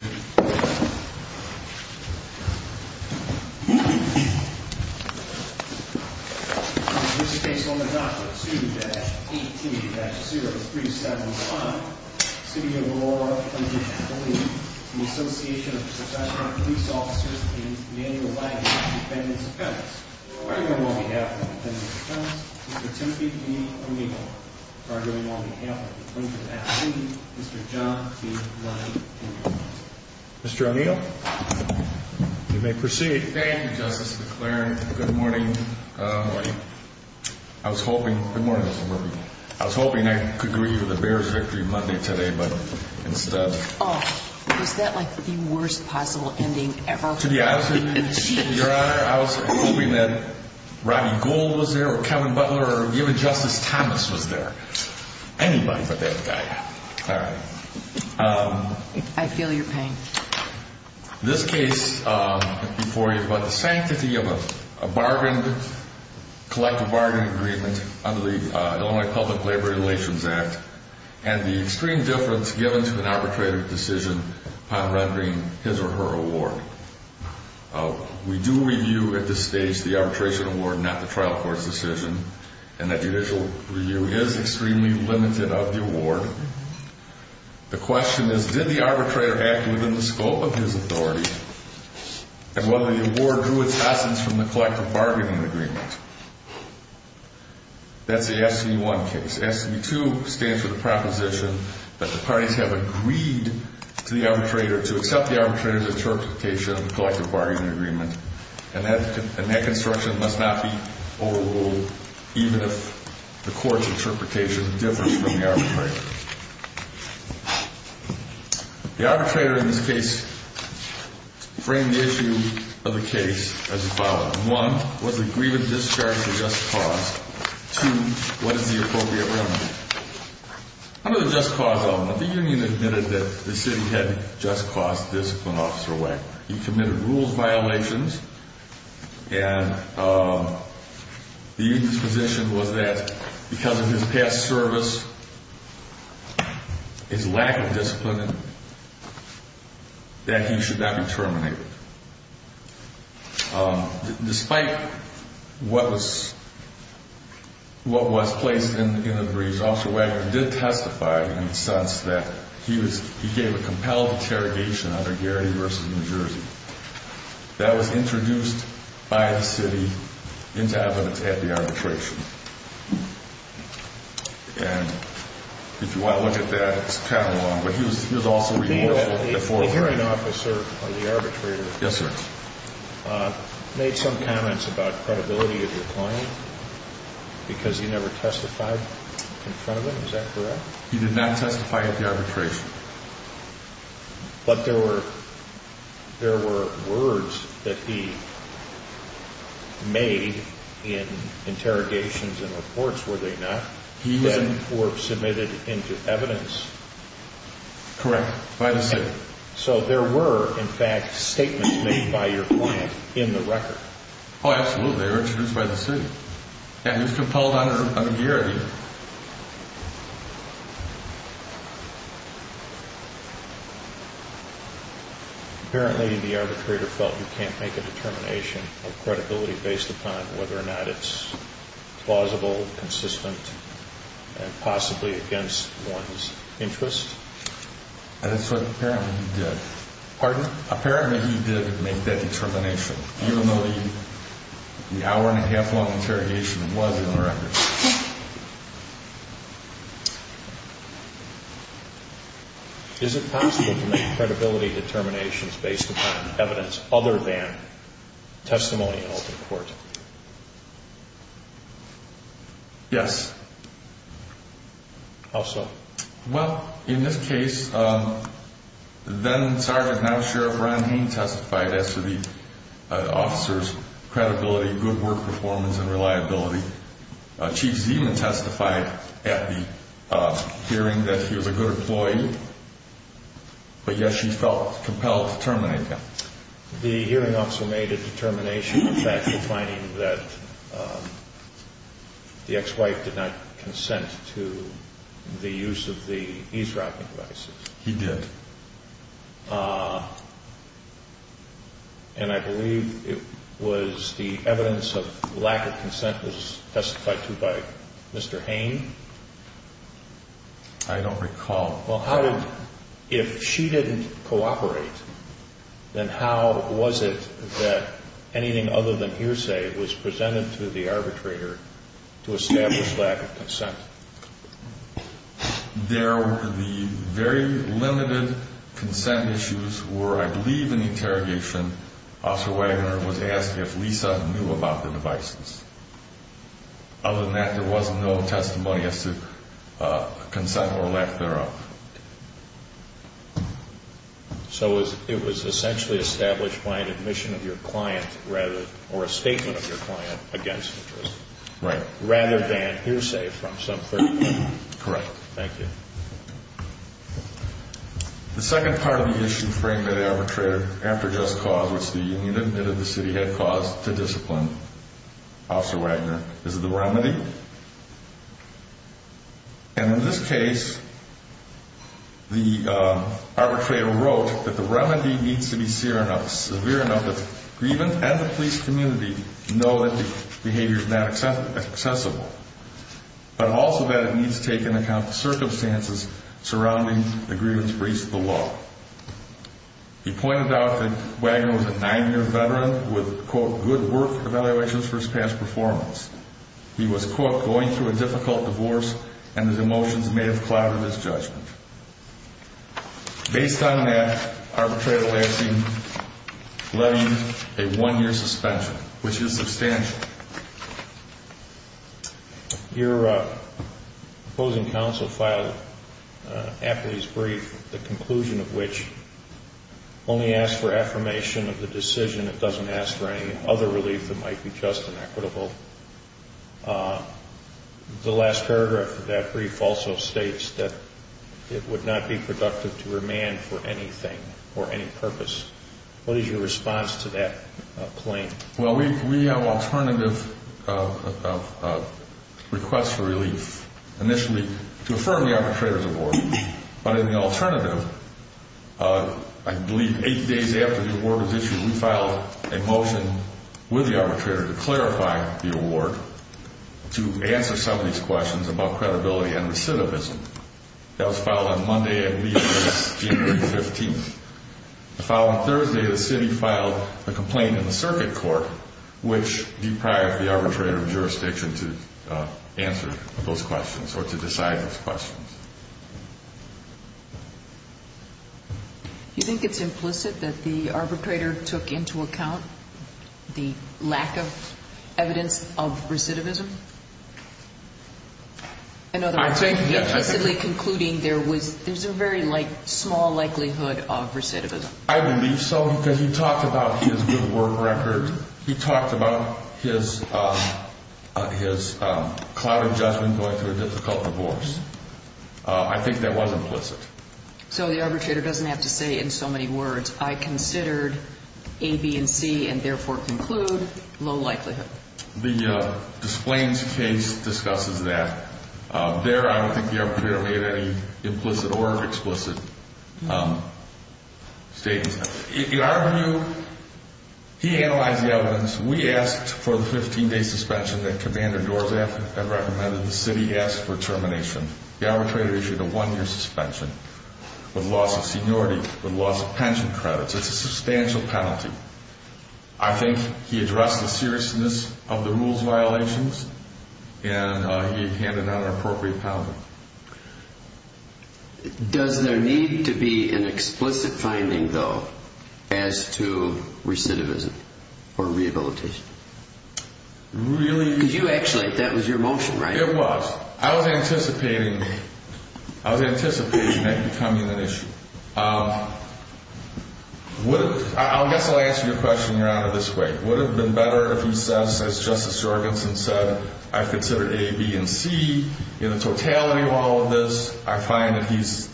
In this case, on the docket, 2-18-0375, City of Aurora, Columbia, California, the Association of Saskatchewan Police Officers and manual laborers, defendants and felons. Arguing on behalf of the defendants and felons, Mr. Tempe B. O'Neill, arguing on behalf of the police department, Mr. John B. O'Neill. Mr. O'Neill, you may proceed. Thank you, Justice DeClaren. Good morning. Good morning. I was hoping, good morning, Mr. Murphy. I was hoping I could agree to the Bears' victory Monday today, but instead... Oh, is that like the worst possible ending ever? To be honest with you, Your Honor, I was hoping that Rodney Gould was there or Kevin Butler or even Justice Thomas was there. Anybody but that guy. All right. I feel your pain. This case, before you, about the sanctity of a bargained, collective bargaining agreement under the Illinois Public Labor Relations Act and the extreme difference given to an arbitrative decision upon rendering his or her award. We do review at this stage the arbitration award, not the trial court's decision, and that judicial review is extremely limited of the award. The question is, did the arbitrator act within the scope of his authority and whether the award drew its essence from the collective bargaining agreement? That's the SB1 case. SB2 stands for the proposition that the parties have agreed to the arbitrator to accept the arbitrator's interpretation of the collective bargaining agreement, and that construction must not be overruled, even if the court's interpretation differs from the arbitrator's. The arbitrator in this case framed the issue of the case as the following. One, was the grievance discharged a just cause? Two, what is the appropriate remedy? Under the just cause element, the union admitted that the city had just caused Discipline Officer Wagner. He committed rules violations, and the union's position was that because of his past service, his lack of discipline, that he should not be terminated. Despite what was placed in the briefs, Officer Wagner did testify in the sense that he gave a compelled interrogation under Gary v. New Jersey. That was introduced by the city into evidence at the arbitration, and if you want to look at that, it's kind of long, but he was also remorseful before. The hearing officer or the arbitrator made some comments about credibility of your client because he never testified in front of him, is that correct? He did not testify at the arbitration. But there were words that he made in interrogations and reports, were they not, that were submitted into evidence? Correct. By the city. So there were, in fact, statements made by your client in the record. Oh, absolutely. They were introduced by the city. And he was compelled under Gary. Apparently the arbitrator felt you can't make a determination of credibility based upon whether or not it's plausible, consistent, and possibly against one's interest? That's what apparently he did. Pardon? Apparently he did make that determination. Even though the hour and a half long interrogation was in the record. Is it possible to make credibility determinations based upon evidence other than testimony held in court? Yes. How so? Well, in this case, then-Sergeant, now-Sheriff Ron Hain testified as to the officer's credibility, good work performance, and reliability. Chief Zeman testified at the hearing that he was a good employee. But yes, she felt compelled to terminate him. The hearing officer made a determination, in fact, defining that the ex-wife did not make use of the eavesdropping devices. He did. And I believe it was the evidence of lack of consent was testified to by Mr. Hain? I don't recall. Well, how did-if she didn't cooperate, then how was it that anything other than hearsay There were the very limited consent issues where, I believe in the interrogation, Officer Wagner was asked if Lisa knew about the devices. Other than that, there was no testimony as to consent or lack thereof. So it was essentially established by an admission of your client, or a statement of your client against the jury? Right. Rather than hearsay from some third party? Correct. Thank you. The second part of the issue framed at arbitrator after just cause, which the union admitted the city had caused to discipline Officer Wagner, is the remedy. And in this case, the arbitrator wrote that the remedy needs to be severe enough that grievance and the police community know that the behavior is not accessible. But also that it needs to take into account the circumstances surrounding the grievance breach of the law. He pointed out that Wagner was a nine-year veteran with, quote, good work evaluations for his past performance. He was, quote, going through a difficult divorce, and his emotions may have clouded his judgment. Based on that, arbitrator lashing, letting a one-year suspension, which is substantial. Your opposing counsel filed after his brief, the conclusion of which only asked for affirmation of the decision. It doesn't ask for any other relief that might be just and equitable. The last paragraph of that brief also states that it would not be productive to remand for anything or any purpose. What is your response to that claim? Well, we have alternative requests for relief initially to affirm the arbitrator's award. But in the alternative, I believe eight days after the award was issued, we filed a motion with the arbitrator to clarify the award, to answer some of these questions about credibility and recidivism. That was filed on Monday, I believe, January 15th. The following Thursday, the city filed a complaint in the circuit court which deprived the arbitrator of jurisdiction to answer those questions or to decide those questions. Do you think it's implicit that the arbitrator took into account the lack of evidence of recidivism? In other words, you're implicitly concluding there was, there's a very small likelihood of recidivism. I believe so, because he talked about his good work record. He talked about his cloud adjustment going through a difficult divorce. I think that was implicit. So the arbitrator doesn't have to say in so many words, I considered A, B, and C, and therefore conclude low likelihood. The Displains case discusses that. There, I don't think the arbitrator made any implicit or explicit statements. In our view, he analyzed the evidence. We asked for the 15-day suspension that Commander Doors had recommended. The city asked for termination. The arbitrator issued a one-year suspension with loss of seniority, with loss of pension credits. It's a substantial penalty. I think he addressed the seriousness of the rules violations and he handed out an appropriate penalty. Does there need to be an explicit finding, though, as to recidivism or rehabilitation? Really? Because you actually, that was your motion, right? It was. I was anticipating that becoming an issue. I guess I'll answer your question, Your Honor, this way. Would it have been better if he says, as Justice Jorgensen said, I've considered A, B, and C. In the totality of all of this, I find that he's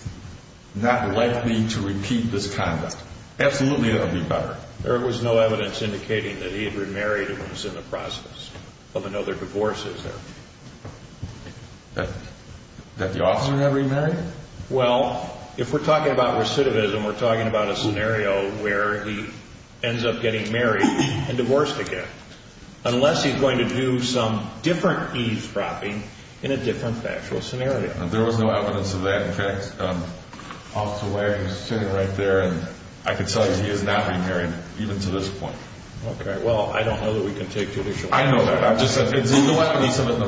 not likely to repeat this conduct. Absolutely, it would be better. There was no evidence indicating that he had remarried and was in the process of another divorce, is there? That the officer had remarried? Well, if we're talking about recidivism, we're talking about a scenario where he ends up getting married and divorced again, unless he's going to do some different eavesdropping in a different factual scenario. There was no evidence of that. In fact, Officer Wagner's sitting right there and I can tell you he has not remarried, even to this point. Okay, well, I don't know that we can take judicial action. I know that. It's in the left and he's in the right.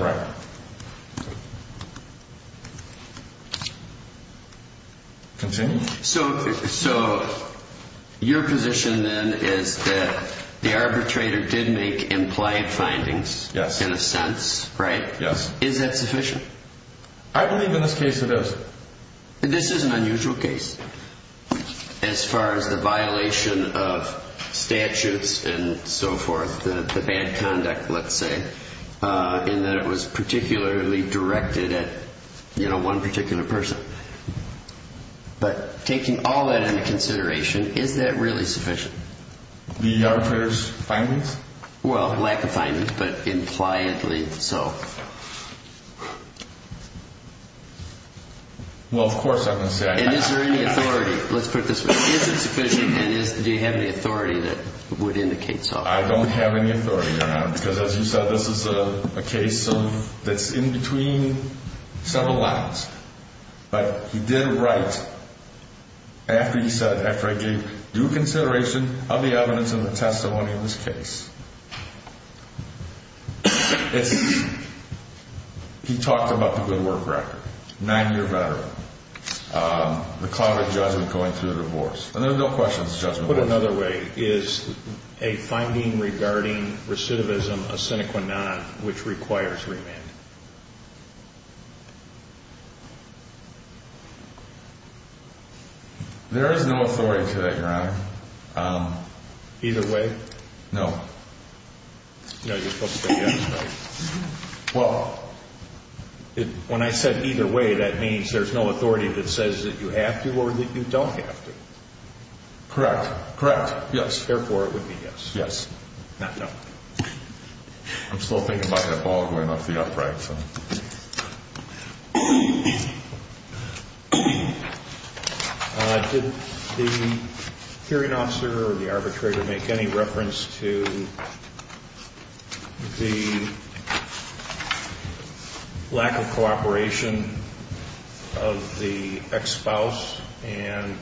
Continue. So, your position, then, is that the arbitrator did make implied findings, in a sense, right? Yes. Is that sufficient? I believe in this case it is. This is an unusual case, as far as the violation of statutes and so forth, the bad conduct, let's say, in that it was presumed that he had remarried. Particularly directed at, you know, one particular person. But taking all that into consideration, is that really sufficient? The arbitrator's findings? Well, lack of findings, but impliedly so. Well, of course, I'm going to say... And is there any authority? Let's put it this way. Is it sufficient and do you have any authority that would indicate so? I don't have any authority, Your Honor, because, as you said, this is a case that's in between several lines. But he did write, after he said, after I gave due consideration of the evidence and the testimony in this case. He talked about the good work record. Nine-year veteran. The cloud of judgment going through the divorce. And there are no questions of judgment. Put another way, is a finding regarding recidivism a sine qua non which requires remand? There is no authority to that, Your Honor. Either way? No. No, you're supposed to say yes, right? Well... When I said either way, that means there's no authority that says that you have to or that you don't have to. Correct. Correct. Yes. Therefore, it would be yes. Yes. I'm still thinking about that ball going off the upright. Did the hearing officer or the arbitrator make any reference to the lack of cooperation of the ex-spouse and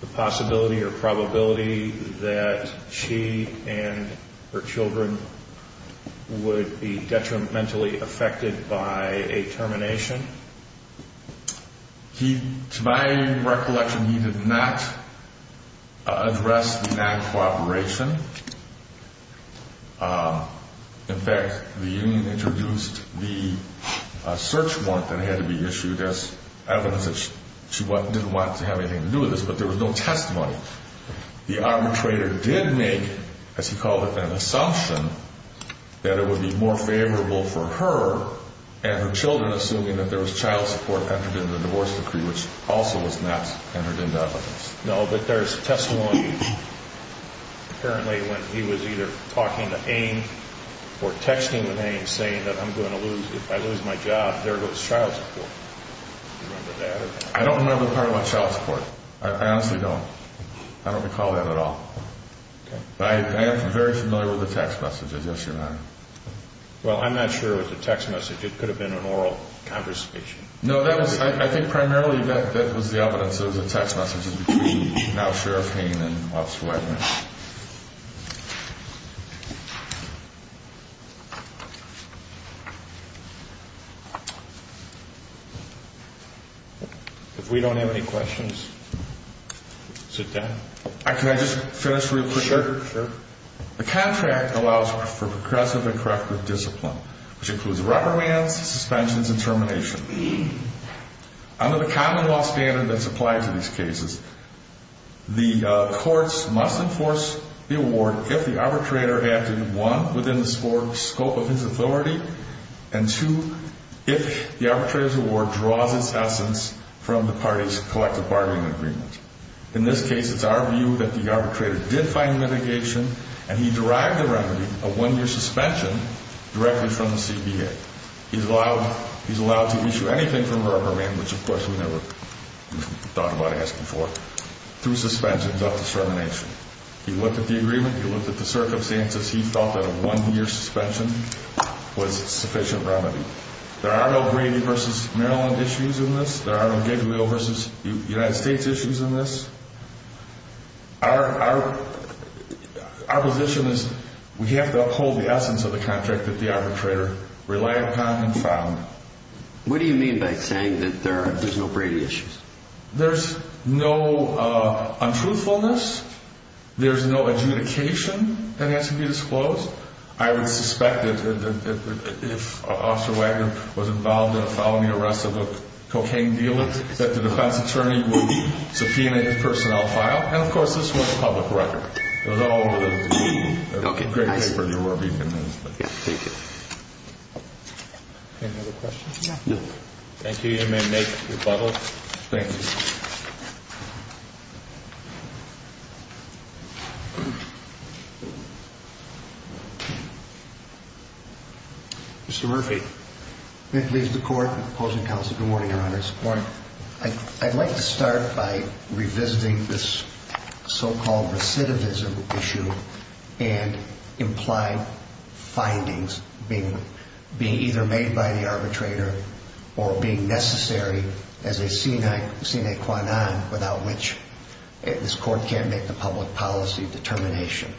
the possibility or probability that she and her children would be detrimentally affected by a termination? To my recollection, he did not address the lack of cooperation. In fact, the union introduced the search warrant that had to be issued as evidence that she didn't want to have anything to do with this but there was no testimony. The arbitrator did make as he called it, an assumption that it would be more favorable for her and her children assuming that there was child support entered into the divorce decree which also was not entered into evidence. No, but there's testimony apparently when he was either talking to Ainge or texting with Ainge saying that if I lose my job, there goes child support. Do you remember that? I don't remember the part about child support. I honestly don't. I don't recall that at all. I am very familiar with the text messages. Yes, Your Honor. Well, I'm not sure it was a text message. It could have been an oral conversation. No, I think primarily that was the evidence that it was a text message between now Sheriff Ainge and Officer Wagner. If we don't have any questions, sit down. Can I just finish real quick? Sure. The contract allows for progressive and corrective discipline which includes rubber bands, suspensions, and termination. Under the common law standard that's applied to these cases, the courts must enforce the award if the arbitrator acted, one, within the scope of his authority and two, if the arbitrator's award draws its essence from the party's collective bargaining agreement. In this case, it's our view that the arbitrator did find mitigation and he derived a remedy, a one-year suspension, directly from the CBA. He's allowed to issue anything from a rubber band, which of course we never thought about asking for, through suspensions up to termination. He looked at the agreement, he looked at the circumstances, he thought that a one-year suspension was a sufficient remedy. There are no Brady versus Maryland issues in this. There are no Gabriel versus United States issues in this. Our position is we have to uphold the essence of the contract that the arbitrator relied upon and found. What do you mean by saying that there's no Brady issues? There's no untruthfulness. There's no adjudication that has to be disclosed. I would expect that if Officer Wagner was involved in following the arrest of a cocaine dealer that the defense attorney would subpoena his personnel file. And of course, this was a public record. It was all over the degree. Great paper. Any other questions? Thank you. You may make rebuttals. Thank you. Mr. Murphy. Good morning, Your Honor. I'd like to start by revisiting this so-called recidivism issue and implied findings being either made by the arbitrator or being necessary as a sine qua non without which this court can't make the public policy determination.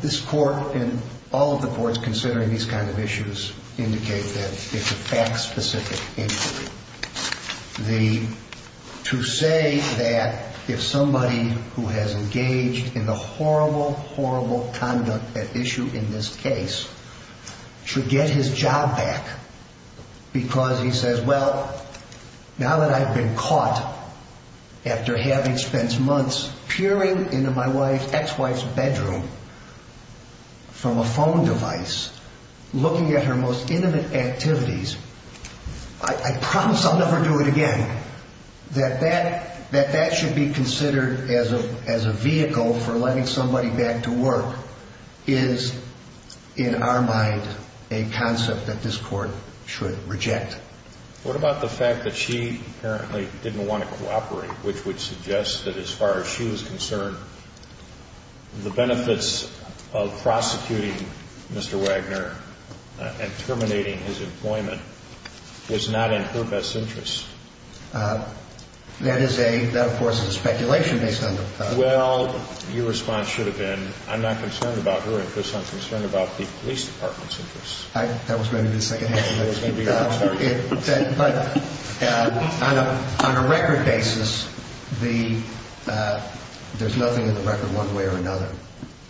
This court and all of the courts considering these kinds of issues indicate that it's a fact-specific injury. To say that if somebody who has engaged in the horrible, horrible conduct at issue in this case should get his job back because he says, well, now that I've been caught after having spent months peering into my ex-wife's bedroom from a phone device looking at her most intimate activities, I promise I'll never do it again. That that should be considered as a vehicle for letting somebody back to work is, in our mind, a concept that this court should reject. What about the fact that she apparently didn't want to cooperate, which would suggest that as far as she was concerned, the benefits of prosecuting Mr. Wagner and terminating his employment was not in her best interests? That is a, that of course is speculation based on the facts. Well, your response should have been, I'm not concerned about her interests, I'm concerned about the police department's interests. That was maybe the second half of it. But that, but on a record basis, the, there's nothing in the record one way or another.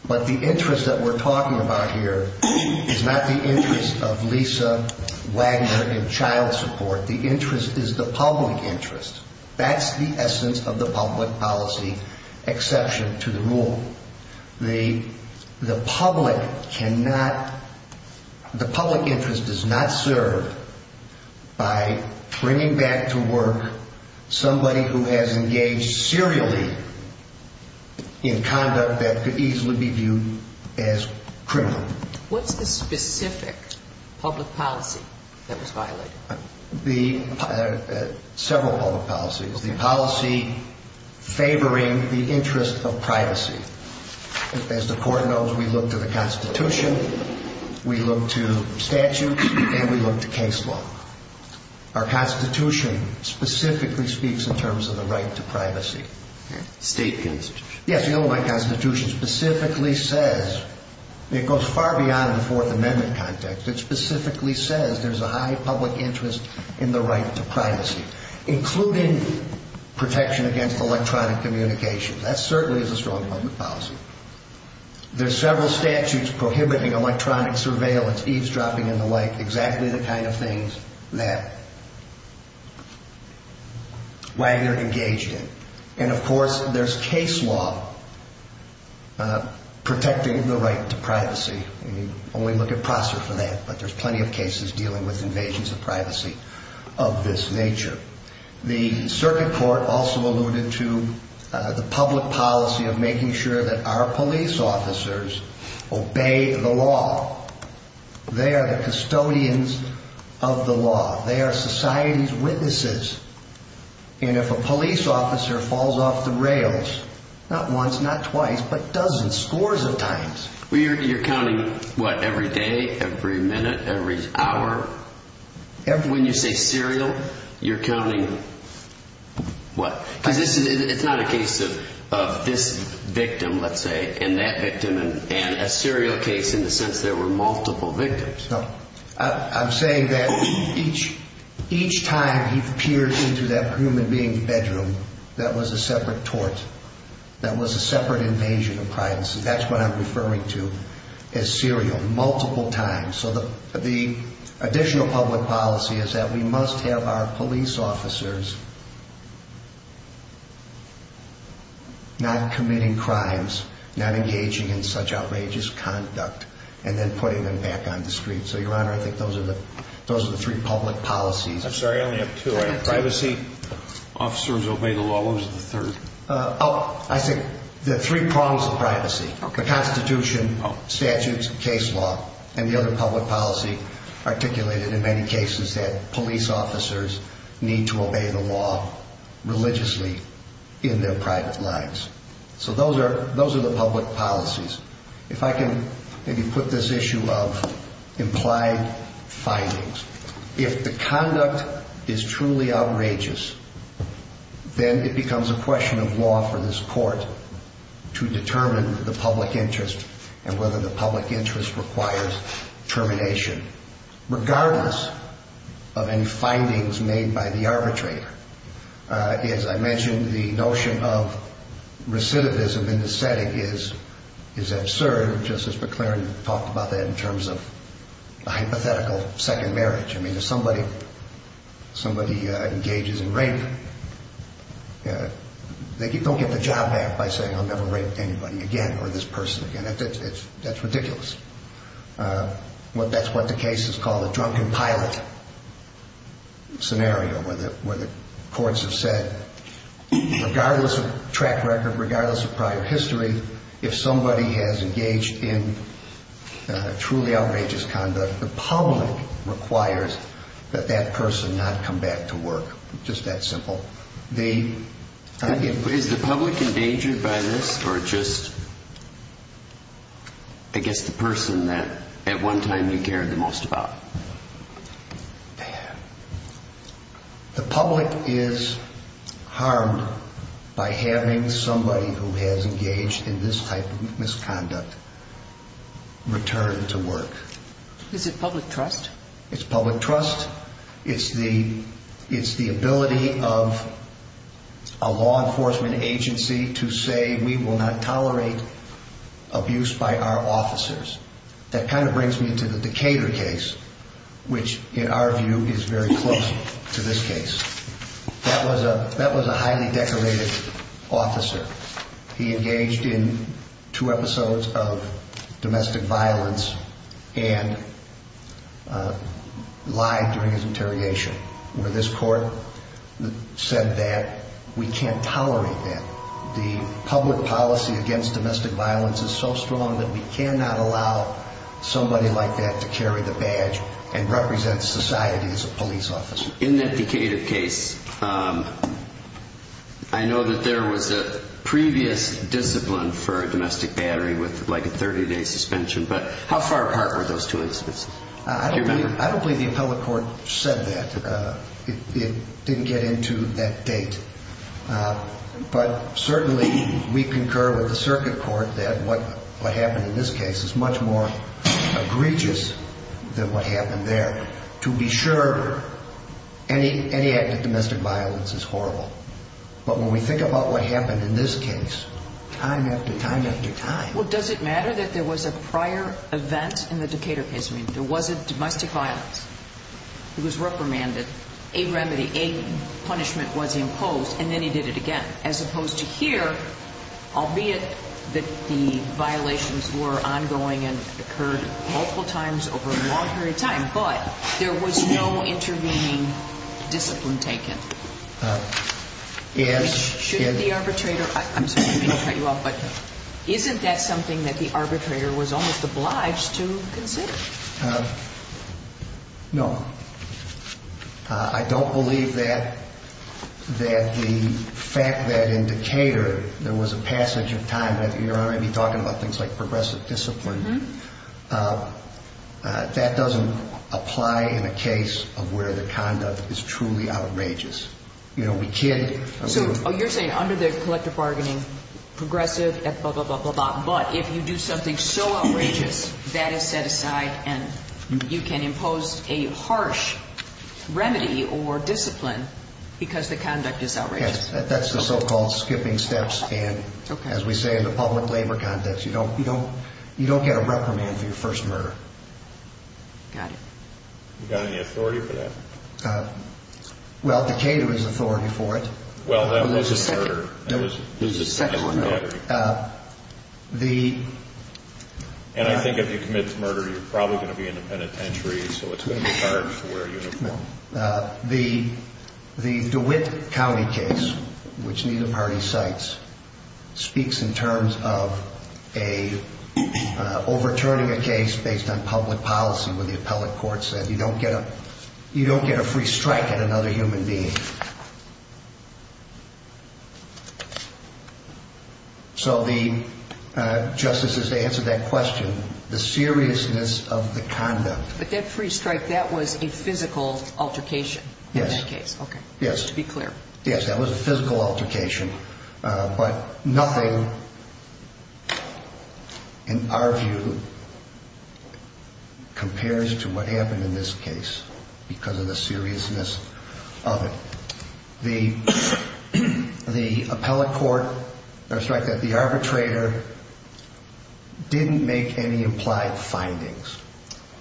But the interest that we're talking about here is not the interest of Lisa Wagner in child support. The interest is the public interest. That's the essence of the public policy exception to the rule. The public cannot, the public interest does not serve by bringing back to work somebody who has engaged serially in conduct that could easily be viewed as criminal. What's the specific public policy that was violated? The, several public policies. The policy favoring the interest of privacy. As the Court knows, we look to the Constitution, we look to statutes, and we look to case law. Our Constitution specifically speaks in terms of the right to privacy. State Constitution? Yes, the Illinois Constitution specifically says, it goes far beyond the Fourth Amendment context, it specifically says there's a high public interest in the right to privacy, including protection against electronic communication. That certainly is a strong public policy. There's several statutes prohibiting electronic surveillance, eavesdropping and the like, exactly the kind of things that Wagner engaged in. And of course, there's case law protecting the right to privacy. We only look at Prosser for that, but there's plenty of cases dealing with invasions of privacy of this nature. The Circuit Court also alluded to the fact that our police officers obey the law. They are the custodians of the law. They are society's witnesses. And if a police officer falls off the rails, not once, not twice, but dozens, scores of times. You're counting, what, every day, every minute, every hour? When you say serial, you're counting what? Because it's not a case of this victim, let's say, and that victim, and a serial case in the sense that there were multiple victims. I'm saying that each time he peers into that human being's bedroom, that was a separate tort. That was a separate invasion of privacy. That's what I'm referring to as serial, multiple times. The additional public policy is that we must have our police officers not committing crimes, not engaging in such outrageous conduct, and then putting them back on the street. So, Your Honor, I think those are the three public policies. I'm sorry, I only have two. Privacy, officers obey the law, what was the third? Oh, I said the three prongs of privacy. The Constitution, statutes, case law, and the other public policy articulated in many cases that police officers need to obey the law religiously in their private lives. So those are the public policies. If I can maybe put this issue of implied findings. If the conduct is truly outrageous, then it becomes a question of law for this court to determine the public interest and whether the public interest requires termination, regardless of any findings made by the arbitrator. As I mentioned, the notion of recidivism in the setting is absurd. Justice McClaren talked about that in terms of a hypothetical second marriage. I mean, if somebody engages in rape, they don't get the job done by saying I'll never rape anybody again, or this person again. That's ridiculous. That's what the case is called, a drunken pilot scenario where the courts have said regardless of track record, regardless of prior history, if somebody has engaged in truly outrageous conduct, the public requires that that person not come back to work. Just that simple. Is the public endangered by this or just I guess the person that at one time you cared the most about? The public is harmed by having somebody who has engaged in this type of misconduct return to work. Is it public trust? It's public trust. It's the ability of a law enforcement agency to say we will not tolerate abuse by our officers. That kind of brings me to the Decatur case, which in our view is very close to this case. That was a highly decorated officer. He engaged in two episodes of domestic violence and lied during his interrogation. This court said that we can't tolerate that. The public policy against domestic violence is so strong that we cannot allow somebody like that to carry the badge and represent society as a police officer. In that Decatur case, I know that there was a previous discipline for a domestic battery with a 30-day suspension, but how far apart were those two incidents? I don't believe the appellate court said that. It didn't get into that date. But certainly we concur with the circuit court that what happened in this case is much more egregious than what happened there. To be sure, any act of domestic violence is horrible. But when we think about what happened in this case, time after time after time... Does it matter that there was a prior event in the Decatur case? There was a domestic violence. He was reprimanded. A remedy, a punishment was imposed, and then he did it again. As opposed to here, albeit that the violations were ongoing and occurred multiple times over a long period of time, but there was no intervening discipline taken. Yes. Shouldn't the arbitrator... Isn't that something that the arbitrator was almost obliged to consider? No. I don't believe that the fact that in Decatur there was a passage of time... You're already talking about things like progressive discipline. That doesn't apply in a case of where the conduct is truly outrageous. We can't... You're saying under the collective bargaining, progressive, blah, blah, blah. But if you do something so outrageous, that is set aside and you can impose a harsh remedy or discipline because the conduct is outrageous. That's the so-called skipping steps. As we say in the public labor context, you don't get a reprimand for your first murder. Got it. You got any authority for that? Well, Decatur has authority for it. There's a second one. The... And I think if you commit to murder, you're probably going to be in a penitentiary, so it's going to be hard to wear a uniform. The DeWitt County case, which neither party cites, speaks in terms of overturning a case based on public policy where the appellate court said you don't get a free strike at another human being. So the... Justices, to answer that question, the seriousness of the conduct... But that free strike, that was a physical altercation? Yes. Okay. Yes. To be clear. Yes, that was a physical altercation. But nothing in our view compares to what happened in this case because of the seriousness of it. The appellate court or strike that the arbitrator didn't make any implied findings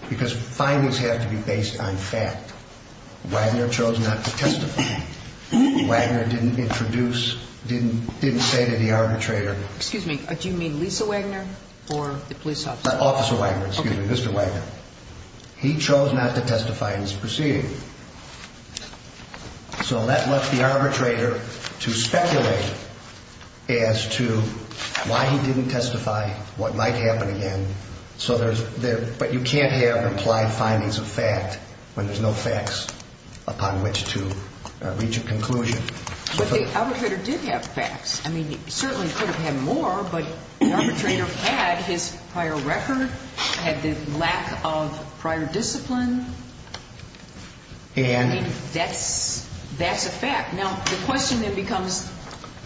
because findings have to be based on fact. Wagner chose not to testify. Wagner didn't introduce, didn't say to the arbitrator... Excuse me. Do you mean Lisa Wagner or the police officer? Officer Wagner. Excuse me. Mr. Wagner. He chose not to testify in his proceeding. So that left the arbitrator to speculate as to why he didn't testify, what might happen again. But you can't have implied findings of fact when there's no facts upon which to reach a conclusion. But the arbitrator did have facts. He certainly could have had more, but the arbitrator had his prior record, had the lack of prior discipline. That's a fact. Now, the question then becomes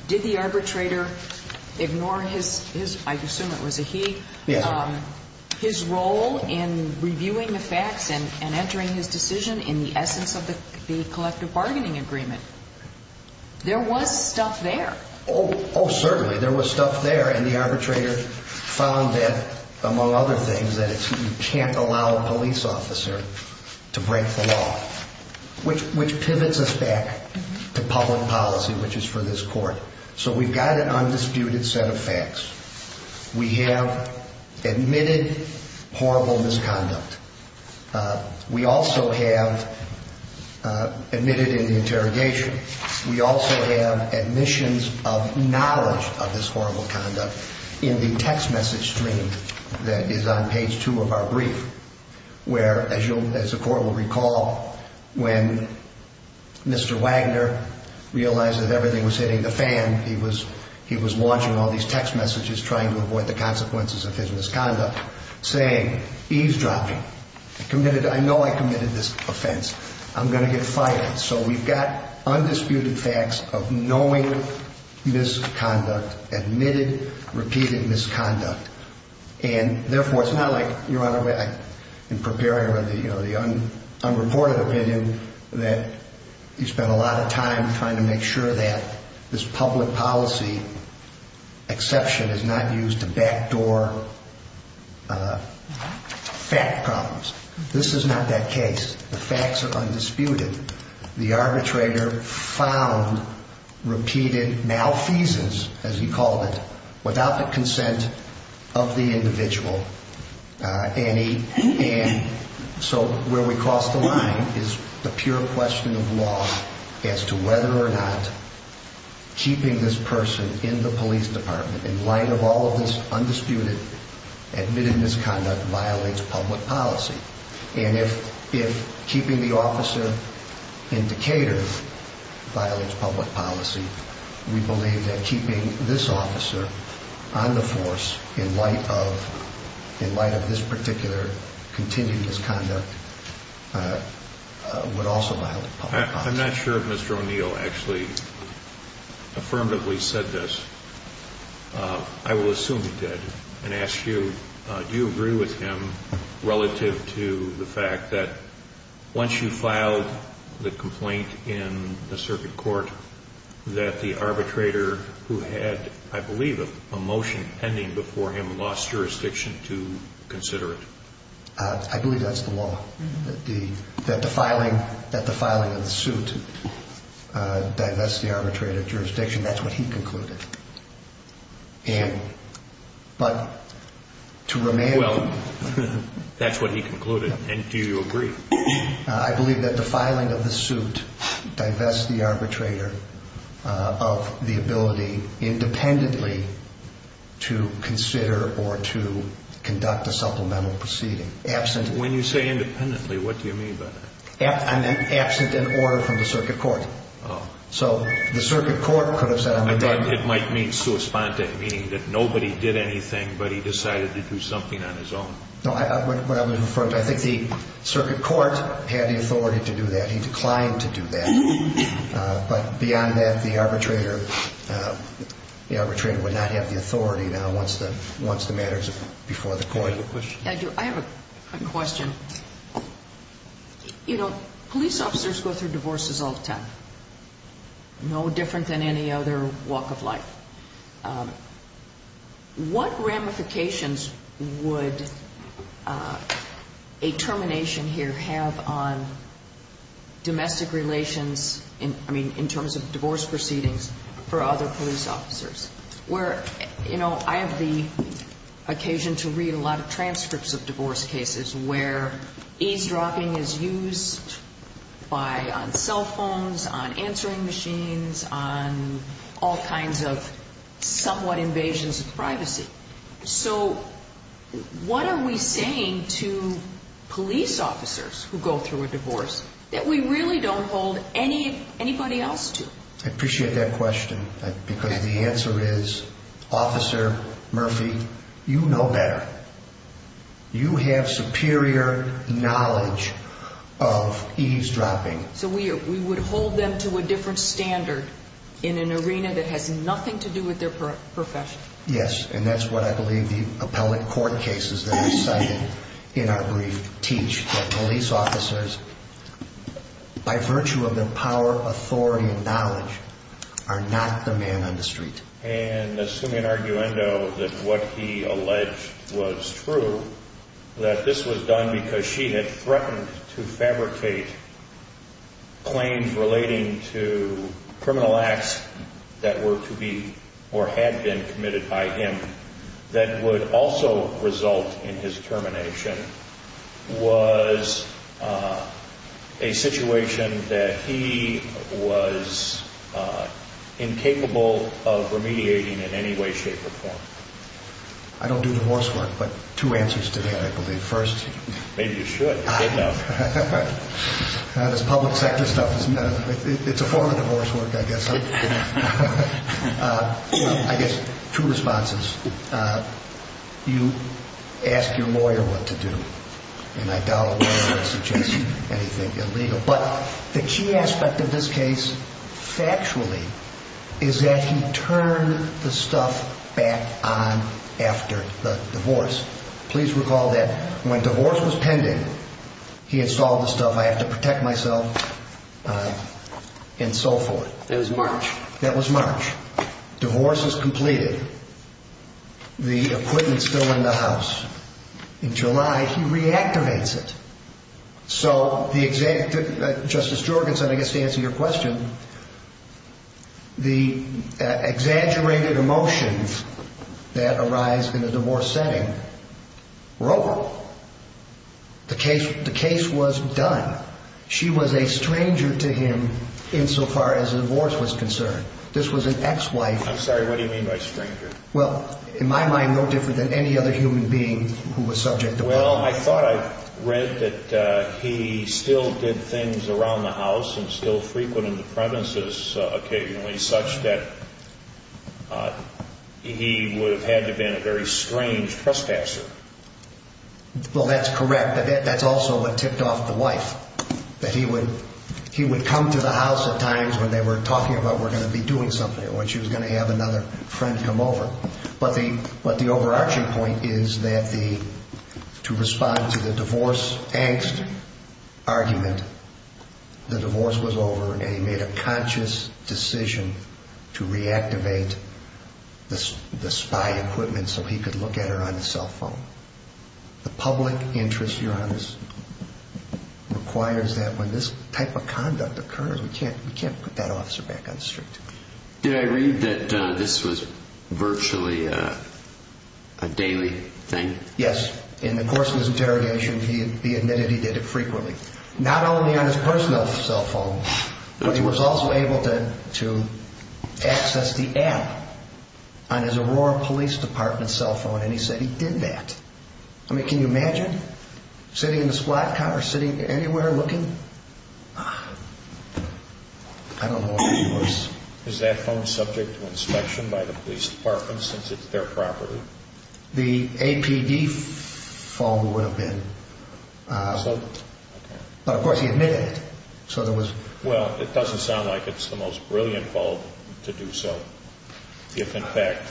did the arbitrator ignore his, I assume it was a he, his role in reviewing the facts and entering his decision in the essence of the collective bargaining agreement? There was stuff there. Oh, certainly. There was stuff there and the arbitrator found that among other things that you can't allow a police officer to break the law. Which pivots us back to public policy, which is for this court. So we've got an undisputed set of facts. We have admitted horrible misconduct. We also have admitted in the interrogation, we also have admissions of knowledge of this horrible conduct in the text message stream that is on page two of our brief, where as you'll, as the court will recall, when Mr. Wagner realized that everything was hitting the fan, he was launching all these text messages trying to avoid the consequences of his misconduct saying, eavesdropping, committed, I know I committed this offense, I'm going to get fired. So we've got undisputed facts of knowing misconduct, admitted repeated misconduct and therefore it's not like in preparing the unreported opinion that you spent a lot of time trying to make sure that this public policy exception is not used to backdoor fact problems. This is not that case. The facts are undisputed. The arbitrator found repeated malfeasance, as he called it, without the consent of the individual. And so where we cross the line is the pure question of law as to whether or not keeping this person in the police department in light of all of this undisputed admitted misconduct violates public policy. And if keeping the officer in Decatur violates public policy, we believe that keeping this officer on the force in light of this particular continued misconduct would also violate public policy. I'm not sure if Mr. O'Neill actually affirmatively said this. I will assume he did and ask you do you agree with him relative to the fact that once you filed the complaint in the circuit court that the arbitrator who had, I believe, a motion pending before him lost jurisdiction to consider it? I believe that's the law. That the filing of the suit divests the arbitrator of jurisdiction. That's what he concluded. And but to remain Well, that's what he concluded. And do you agree? I believe that the filing of the suit divests the arbitrator of the ability independently to consider or to conduct a supplemental proceeding. Absent When you say independently, what do you mean by that? Absent an order from the circuit court. So the circuit court could have said on the day I thought it might mean sui sponte, meaning that nobody did anything but he decided to do something on his own. I think the circuit court had the authority to do that. He declined to do that. But beyond that, the arbitrator would not have the authority now once the matter is before the court. I have a question. You know, police officers go through divorces all the time. No different than any other walk of life. What ramifications would a termination here have on domestic relations in terms of divorce proceedings for other police officers? I have the occasion to read a lot of transcripts of divorce cases where eavesdropping is used on cell phones, on answering machines, on all kinds of somewhat invasions of privacy. So what are we saying to people who go through a divorce that we really don't hold anybody else to? I appreciate that question because the answer is Officer Murphy, you know better. You have superior knowledge of eavesdropping. So we would hold them to a different standard in an arena that has nothing to do with their profession. Yes, and that's what I believe the appellate court cases that are cited in our brief teach that police officers by virtue of their power, authority, and knowledge are not the man on the street. And assuming that what he alleged was true, that this was done because she had threatened to fabricate claims relating to criminal acts that were to be or had been committed by him that would also result in his termination was a situation that he was incapable of remediating in any way, shape, or form. I don't do divorce work, but two answers to that I believe. First... Maybe you should. This public sector stuff, it's a form of divorce work, I guess. I guess two responses. You ask your lawyer what to do, and I doubt a lawyer would suggest anything illegal, but the key aspect of this case factually is that he turned the stuff back on after the divorce. Please recall that when divorce was pending, he installed the stuff, I have to protect myself, and so forth. It was March. That was March. Divorce was completed. The equipment is still in the house. In July, he reactivates it. So, the exact... Justice Jorgensen, I guess to answer your question, the exaggerated emotions that arise in a divorce setting were over. The case was done. She was a stranger to him insofar as divorce was concerned. This was an ex-wife... I'm sorry. What do you mean by stranger? Well, in my mind, no different than any other human being who was subject to... Well, I thought I read that he still did things around the house and still frequented the premises occasionally, such that he would have had to been a very strange trespasser. Well, that's correct. That's also what tipped off the wife, that he would come to the house at times when they were talking about, we're going to be doing something, or she was going to have another friend come over. But the overarching point is that to respond to the divorce-angst argument, the divorce was over, and he made a conscious decision to reactivate the spy equipment so he could look at her on the cell phone. The public interest, Your Honor, requires that when this type of conduct occurs, we can't put that officer back on the street. Did I read that this was virtually a daily thing? Yes. In the course of his interrogation, he admitted he did it frequently, not only on his personal cell phone, but he was also able to access the app on his Aurora Police Department cell phone, and he said he did that. I mean, can you imagine? Sitting in the squat car, sitting anywhere, looking? I don't know what he was... Is that phone subject to inspection by the police department, since it's their property? The APD phone would have been. But of course, he admitted it. So there was... Well, it doesn't sound like it's the most brilliant call to do so. If, in fact,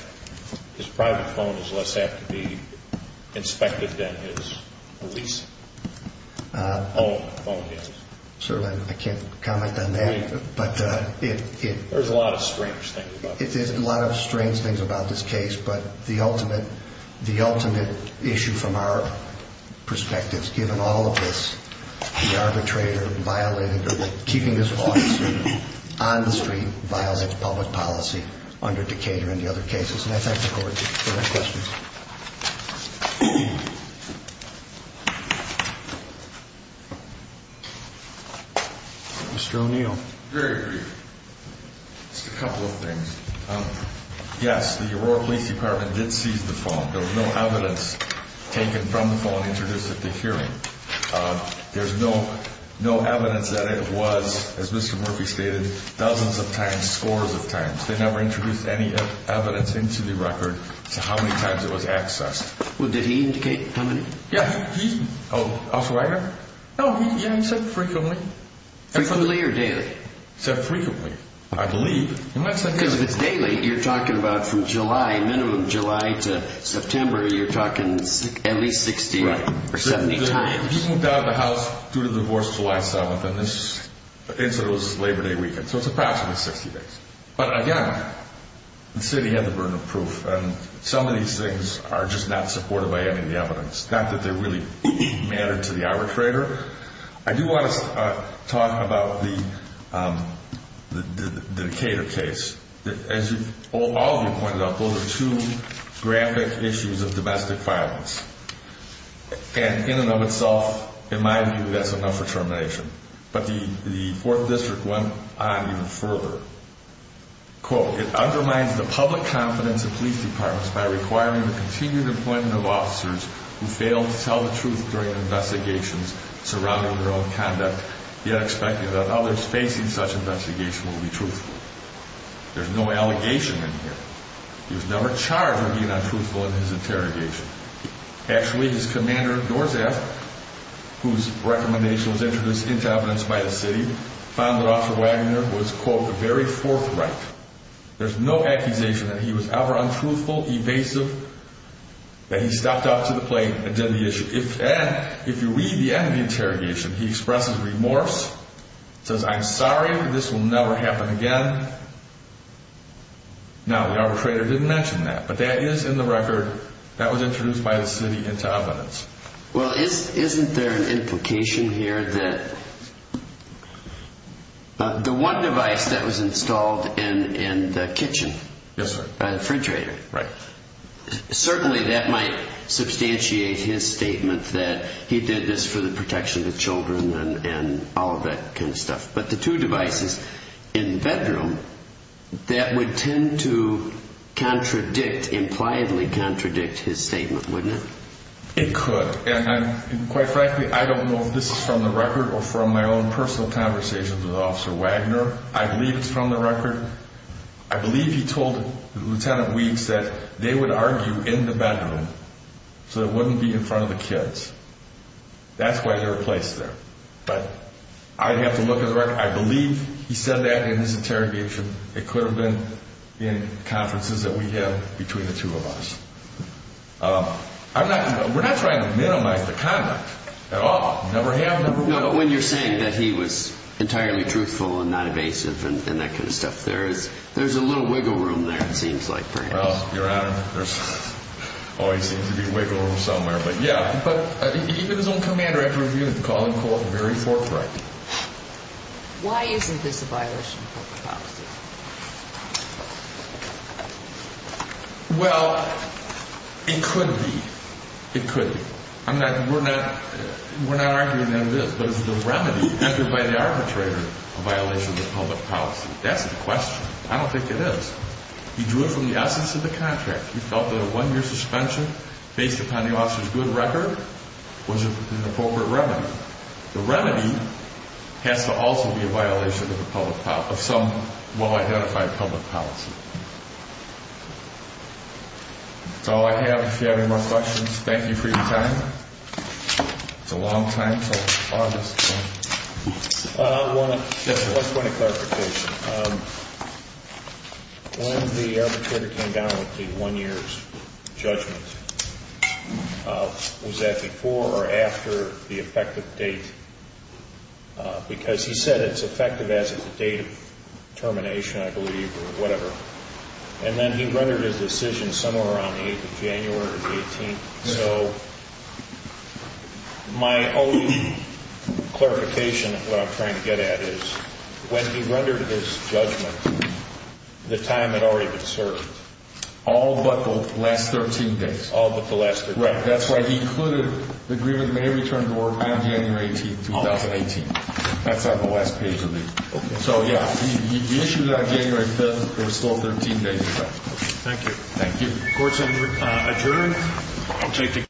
his private phone is less apt to be inspected than his police phone is. Certainly, I can't comment on that. But it... There's a lot of strange things about this. There's a lot of strange things about this case, but the ultimate issue from our perspective is given all of this, the arbitrator violating, keeping this officer on the policy under Decatur and the other cases. And I thank the Court for that question. Mr. O'Neill. Just a couple of things. Yes, the Aurora Police Department did seize the phone. There was no evidence taken from the phone introduced at the hearing. There's no evidence that it was, as Mr. Murphy stated, dozens of times, scores of times. They never introduced any evidence into the record as to how many times it was accessed. Well, did he indicate how many? Yeah, he... Officer Ryder? Oh, yeah, he said frequently. Frequently or daily? He said frequently. I believe. Because if it's daily, you're talking about from July, minimum July to September, you're talking at least 60 or 70 times. He moved out of the house due to divorce July 7th, and this incident was Labor Day weekend. So it's approximately 60 days. But again, the city had the burden of proof, and some of these things are just not supported by any of the evidence. Not that they really matter to the arbitrator. I do want to talk about the Decatur case. As all of you pointed out, those are two graphic issues of domestic violence. And in and of itself, in my view, that's enough for termination. But the Fourth District went on even further. Quote, it undermines the public confidence of police departments by requiring the continued employment of officers who fail to tell the truth during investigations surrounding their own conduct, yet expecting that others facing such investigation will be truthful. There's no allegation in here. He was never charged for being untruthful in his interrogation. Actually, his commander, Dorseth, whose recommendation was introduced into evidence by the city, found that Officer Waggoner was, quote, a very forthright. There's no accusation that he was ever untruthful, evasive, that he stepped up to the plate and did the issue. If you read the end of the interrogation, he expresses remorse, says, I'm sorry. This will never happen again. Now, the arbitrator didn't mention that. But that is in the record. That was Well, isn't there an implication here that the one device that was installed in the kitchen, the refrigerator, certainly that might substantiate his statement that he did this for the protection of the children and all of that kind of stuff. But the two devices in the bedroom, that would tend to contradict, impliedly contradict his statement. Quite frankly, I don't know if this is from the record or from my own personal conversations with Officer Waggoner. I believe it's from the record. I believe he told Lieutenant Weeks that they would argue in the bedroom so it wouldn't be in front of the kids. That's why they were placed there. But I'd have to look at the record. I believe he said that in his interrogation. It could have been in conferences that we had between the two of us. We're not trying to minimize the conduct at all. Never have, never will. No, but when you're saying that he was entirely truthful and not evasive and that kind of stuff, there's a little wiggle room there, it seems like, perhaps. Well, Your Honor, there always seems to be a wiggle room somewhere, but yeah. But even his own command director would call him, quote, very forthright. Why isn't this a violation of corporate policy? Well, it could be. It could be. We're not arguing that it is, but is the remedy entered by the arbitrator a violation of public policy? That's the question. I don't think it is. He drew it from the essence of the contract. He felt that a one-year suspension based upon the officer's good record was an appropriate remedy. The remedy has to also be a violation of the public policy, of some well-identified public policy. That's all I have. If you have any more questions, thank you for your time. It's a long time until August. One point of clarification. When the arbitrator came down with the one-year's judgment, was that before or after the effective date? Because he said it's effective as of the date of termination, I believe, or whatever. And then he rendered his decision somewhere around the 8th of January or the 18th. So, my only clarification of what I'm trying to get at is, when he rendered his judgment, the time had already been served. All but the last 13 days. All but the last 13 days. That's why he included the agreement may return to work on January 18th, 2018. That's on the last page of it. So, yeah. He issued it on January 5th. There were still 13 days left. Thank you. Court's adjourned.